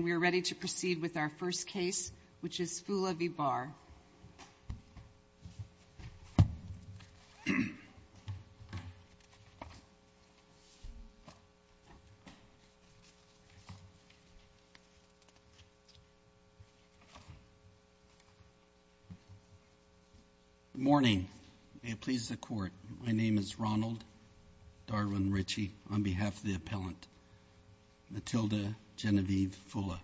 And we are ready to proceed with our first case, which is Foulah v. Barr. Good morning, and may it please the Court, my name is Ronald Darwin Ritchie, on behalf of the appellant, Matilda Genevieve Foulah.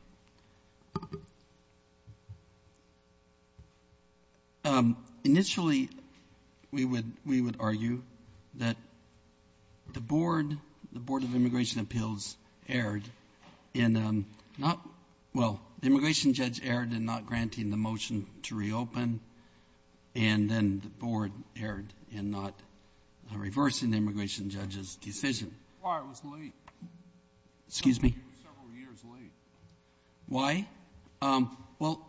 Initially, we would argue that the Board of Immigration Appeals erred in not — well, the immigration judge erred in not granting the motion to reopen, and then the Board erred in not reversing the immigration judge's decision. Why it was late? Excuse me? It was several years late. Why? Well,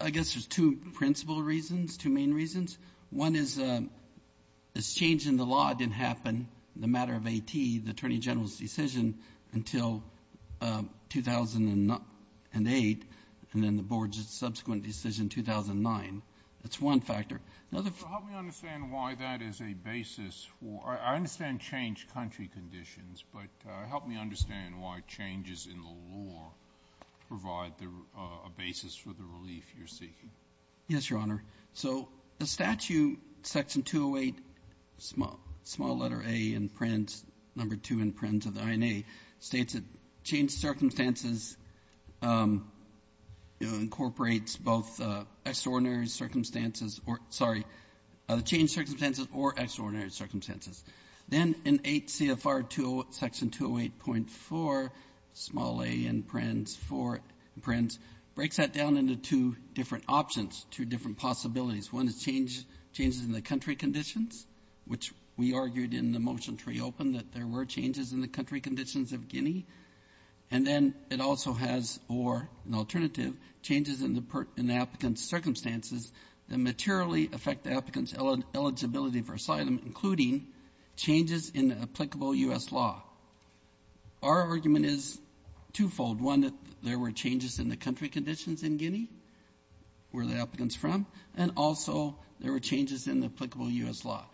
I guess there's two principal reasons, two main reasons. One is this change in the law didn't happen in the matter of AT, the Attorney General's decision, until 2008, and then the Board's subsequent decision in 2009. That's one factor. The other understand why that is a basis for — I understand changed country conditions, but help me understand why changes in the law provide a basis for the relief you're seeking. Yes, Your Honor. So the statute, Section 208, small letter A in Prince, number 2 in Prince of the INA, states that changed circumstances incorporates both extraordinary circumstances or — sorry, changed circumstances or extraordinary circumstances. Then in 8 CFR 208, Section 208.4, small A in Prince, 4 in Prince, breaks that down into two different options, two different possibilities. One is change — changes in the country conditions, which we argued in the motion to reopen that there were changes in the country conditions of Guinea. And then it also has, or an alternative, changes in the applicant's circumstances that materially affect the applicant's eligibility for asylum, including changes in applicable U.S. law. Our argument is twofold. One, that there were changes in the country conditions in Guinea, where the applicant's from, and also there were changes in applicable U.S. law.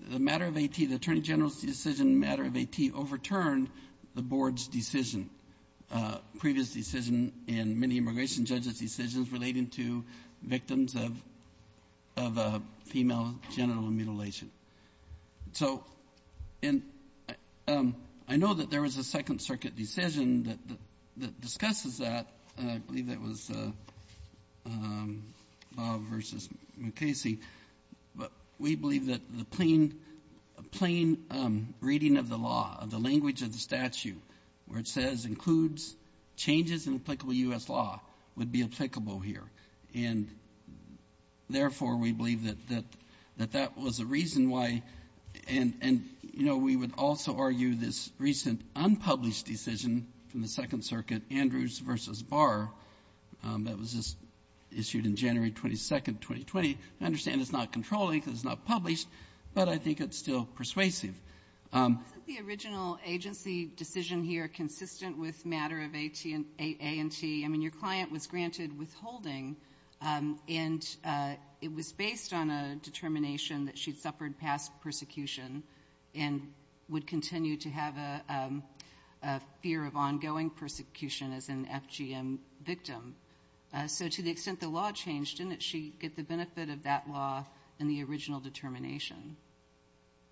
The matter of AT, the Attorney General's decision in the matter of AT overturned the Board's decision, previous decision in many immigration judges' decisions relating to victims of — of a female genital mutilation. So in — I know that there was a Second Circuit decision that — that discusses that. I believe that was Bob v. Mukasey. But we believe that the plain — plain reading of the law, of the language of the statute, where it says includes changes in applicable U.S. law, would be applicable here. And therefore, we believe that — that that was a reason why — and, you know, we would also argue this recent unpublished decision from the Second Circuit, Andrews v. Barr, that was just issued in January 22nd, 2020. I understand it's not controlling because it's not published, but I think it's still persuasive. Wasn't the original agency decision here consistent with matter of AT and — A&T? I mean, your client was granted withholding, and it was based on a determination that she'd suffered past persecution and would continue to have a — a fear of ongoing persecution as an FGM victim. So to the extent the law changed, didn't she get the benefit of that law in the original case? The original determination.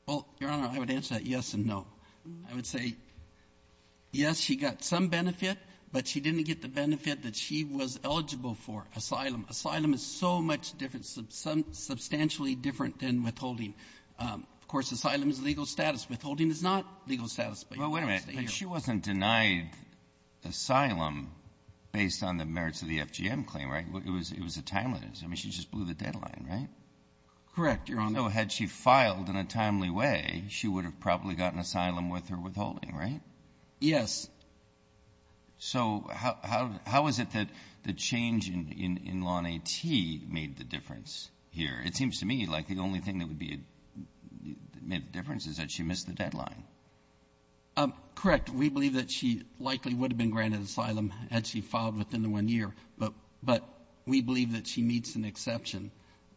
Well, Your Honor, I would answer that yes and no. I would say, yes, she got some benefit, but she didn't get the benefit that she was eligible for, asylum. Asylum is so much different, substantially different than withholding. Of course, asylum is legal status. Withholding is not legal status, but you can't stay here. Well, wait a minute. But she wasn't denied asylum based on the merits of the FGM claim, right? It was — it was a timeliness. I mean, she just blew the deadline, right? Correct, Your Honor. So had she filed in a timely way, she would have probably gotten asylum with her withholding, right? Yes. So how is it that the change in law in AT made the difference here? It seems to me like the only thing that would be — made the difference is that she missed the deadline. Correct. We believe that she likely would have been granted asylum had she filed within the one year, but we believe that she meets an exception.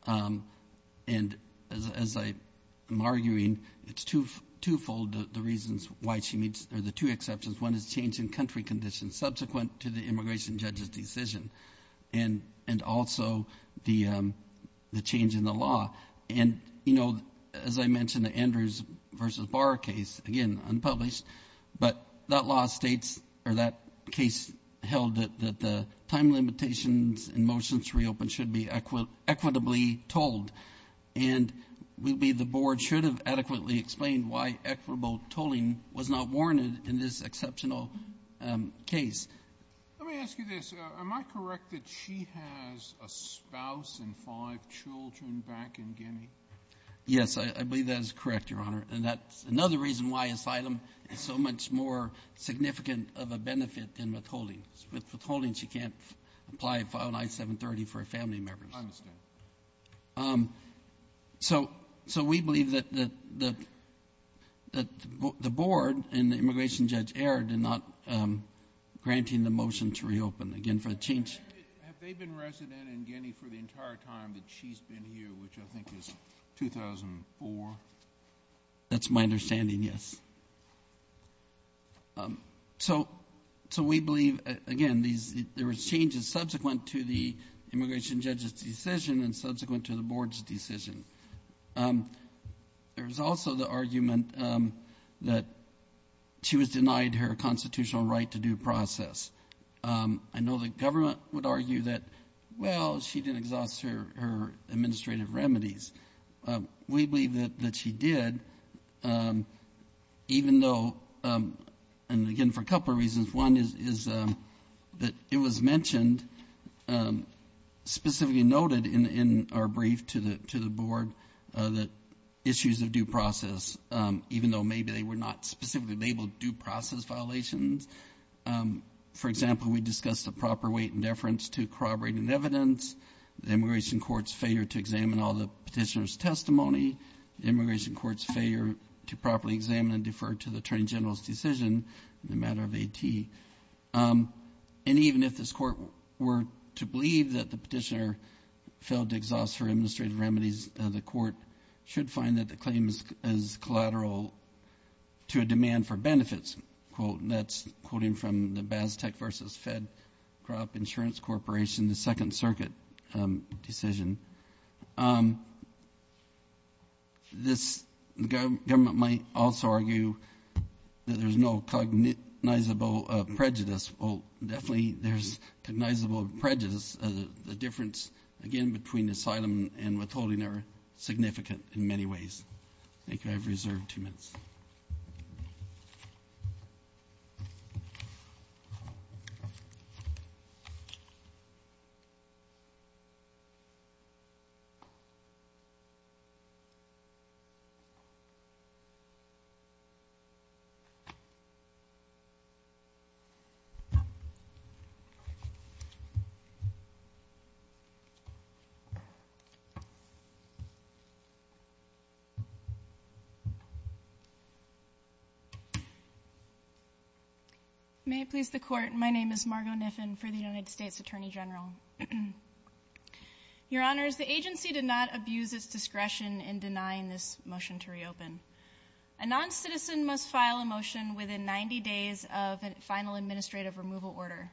And as I'm arguing, it's twofold the reasons why she meets — or the two exceptions. One is change in country conditions subsequent to the immigration judge's decision and also the change in the law. And, you know, as I mentioned, the Andrews v. Barr case, again, unpublished, but that law states — or that case held that the time limitations in motions to reopen should be equitably told. And we believe the board should have adequately explained why equitable tolling was not warranted in this exceptional case. Let me ask you this. Am I correct that she has a spouse and five children back in Guinea? Yes, I believe that is correct, Your Honor. And that's another reason why asylum is so much more significant of a benefit than withholding. With withholding, she can't apply and file an I-730 for her family members. I understand. So we believe that the board and the immigration judge erred in not granting the motion to reopen. Again, for the change — Have they been resident in Guinea for the entire time that she's been here, which I think is 2004? That's my understanding, yes. So we believe, again, there were changes subsequent to the immigration judge's decision and subsequent to the board's decision. There was also the argument that she was denied her constitutional right to due process. I know the government would argue that, well, she didn't exhaust her administrative remedies. We believe that she did, even though — and, again, for a couple of reasons. One is that it was mentioned, specifically noted in our brief to the board, that issues of due process, even though maybe they were not specifically labeled due process violations. For example, we discussed the proper weight and deference to corroborating evidence, the immigration court's failure to examine all the petitioner's testimony, the immigration court's failure to properly examine and defer to the attorney general's decision in the matter of AT. And even if this court were to believe that the petitioner failed to exhaust her administrative remedies, the court should find that the claim is collateral to a demand for benefits. Next quote, and that's quoting from the BASTEC versus FedCrop Insurance Corporation, the Second Circuit decision. This government might also argue that there's no cognizable prejudice. Well, definitely there's cognizable prejudice. The difference, again, between asylum and withholding are significant in many ways. Thank you. I have reserved two minutes. May it please the court, my name is Margo Niffen for the United States Attorney General. Your Honors, the agency did not abuse its discretion in denying this motion to reopen. A non-citizen must file a motion within 90 days of a final administrative removal order.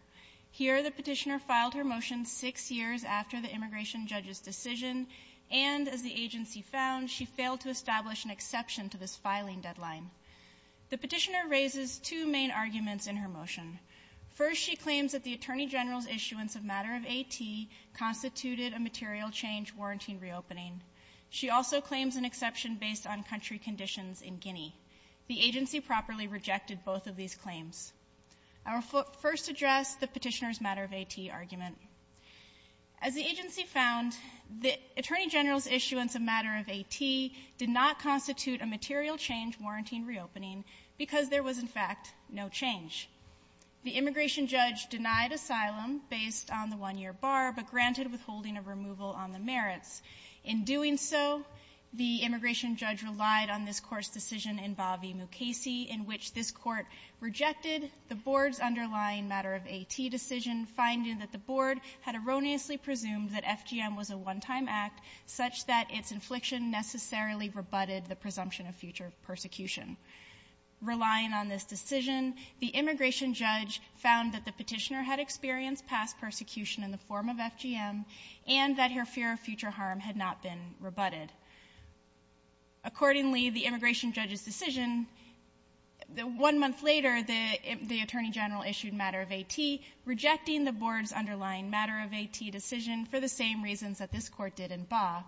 Here, the petitioner filed her motion six years after the immigration judge's decision, and as the agency found, she failed to establish an exception to this filing deadline. The petitioner raises two main arguments in her motion. First, she claims that the Attorney General's issuance of matter of AT constituted a material change warranting reopening. She also claims an exception based on country conditions in Guinea. The agency properly rejected both of these claims. I will first address the petitioner's matter of AT argument. As the agency found, the Attorney General's issuance of matter of AT did not constitute a material change warranting reopening because there was, in fact, no change. The immigration judge denied asylum based on the one-year bar, but granted withholding of removal on the merits. In doing so, the immigration judge relied on this Court's ruling that the board had erroneously presumed that FGM was a one-time act such that its infliction necessarily rebutted the presumption of future persecution. Relying on this decision, the immigration judge found that the petitioner had experienced past persecution in the form of FGM and that her fear of future harm had not been rebutted. Accordingly, the immigration judge's decision, one month later, the Attorney General issued matter of AT, rejecting the board's underlying matter of AT decision for the same reasons that this Court did in Ba.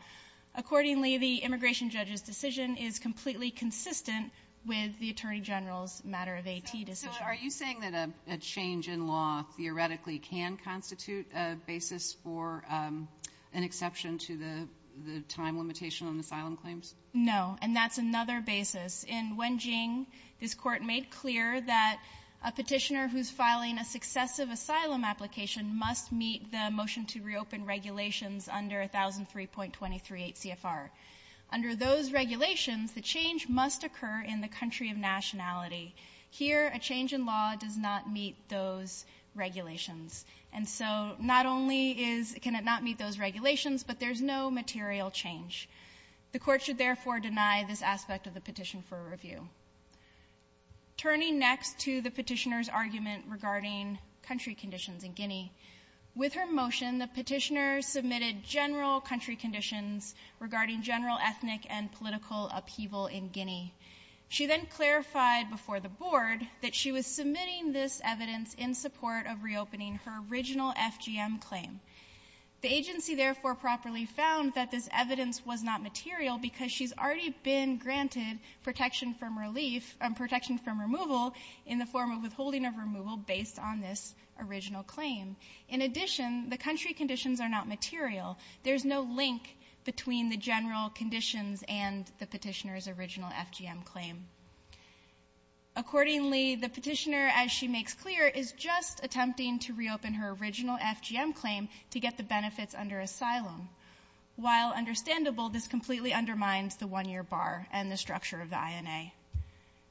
Accordingly, the immigration judge's decision is completely consistent with the Attorney General's matter of AT decision. So are you saying that a change in law theoretically can constitute a basis for an exception to the time limitation on asylum claims? No. And that's another basis. In Wenjing, this Court made clear that a petitioner who's filing a successive asylum application must meet the motion to reopen regulations under 1003.238 CFR. Under those regulations, the change must occur in the country of nationality. Here, a change in law does not meet those regulations. And so not only is can it not meet those regulations, but there's no material change. The Court should therefore deny this aspect of the petition for review. Turning next to the petitioner's argument regarding country conditions in Guinea, with her motion, the petitioner submitted general country conditions regarding general ethnic and political upheaval in Guinea. She then clarified before the board that she was submitting this evidence in support of reopening her original FGM claim. The agency, therefore, properly found that this evidence was not material because she's already been granted protection from relief or protection from removal in the form of withholding of removal based on this original claim. In addition, the country conditions are not material. There's no link between the general conditions and the petitioner's original FGM claim. Accordingly, the petitioner, as she makes clear, is just attempting to reopen her original FGM claim to get the benefits under asylum. While understandable, this completely undermines the one-year bar and the structure of the INA.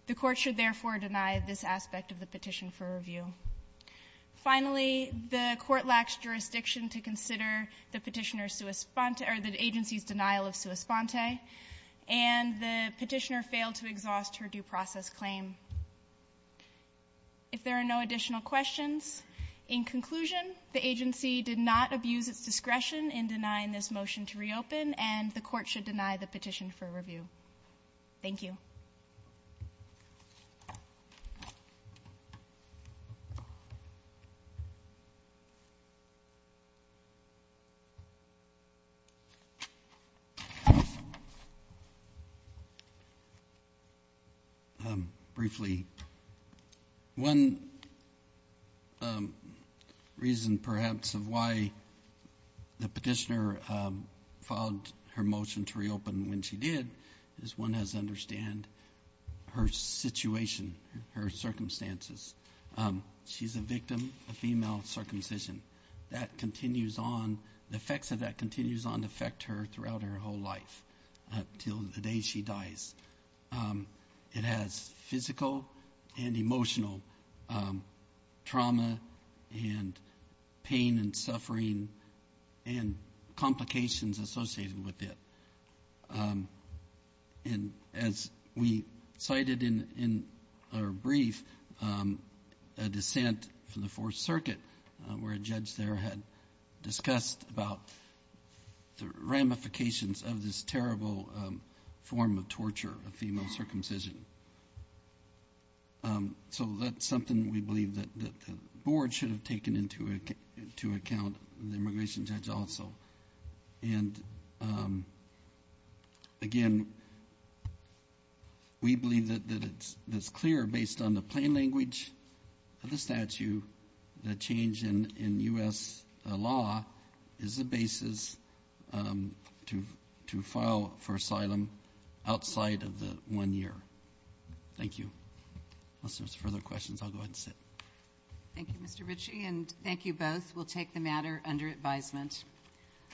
The Court should therefore deny this aspect of the petition for review. Finally, the Court lacks jurisdiction to consider the petitioner's or the agency's denial of sua sponte, and the petitioner failed to exhaust her due process claim. If there are no additional questions, in conclusion, the agency did not abuse its discretion in denying this motion to reopen, and the Court should deny the petition for review. Thank you. Briefly, one reason perhaps of why the petitioner filed her motion to reopen when she did is one has to understand her situation, her circumstances. She's a victim of female circumcision. That continues on, the effects of that continues on to affect her throughout her whole life until the day she dies. It has physical and emotional trauma and pain and suffering and complications associated with it. And as we cited in our brief, a dissent from the Fourth Circuit where a judge there had discussed about the ramifications of this terrible form of torture of female circumcision. So that's something we believe that the Board should have taken into account, the immigration judge also. And again, we believe that it's clear based on the plain language of the statute that change in U.S. law is the basis to file for asylum outside of the one year. Thank you. Unless there's further questions, I'll go ahead and sit. Thank you, Mr. Ritchie, and thank you both. We'll take the matter under advisement.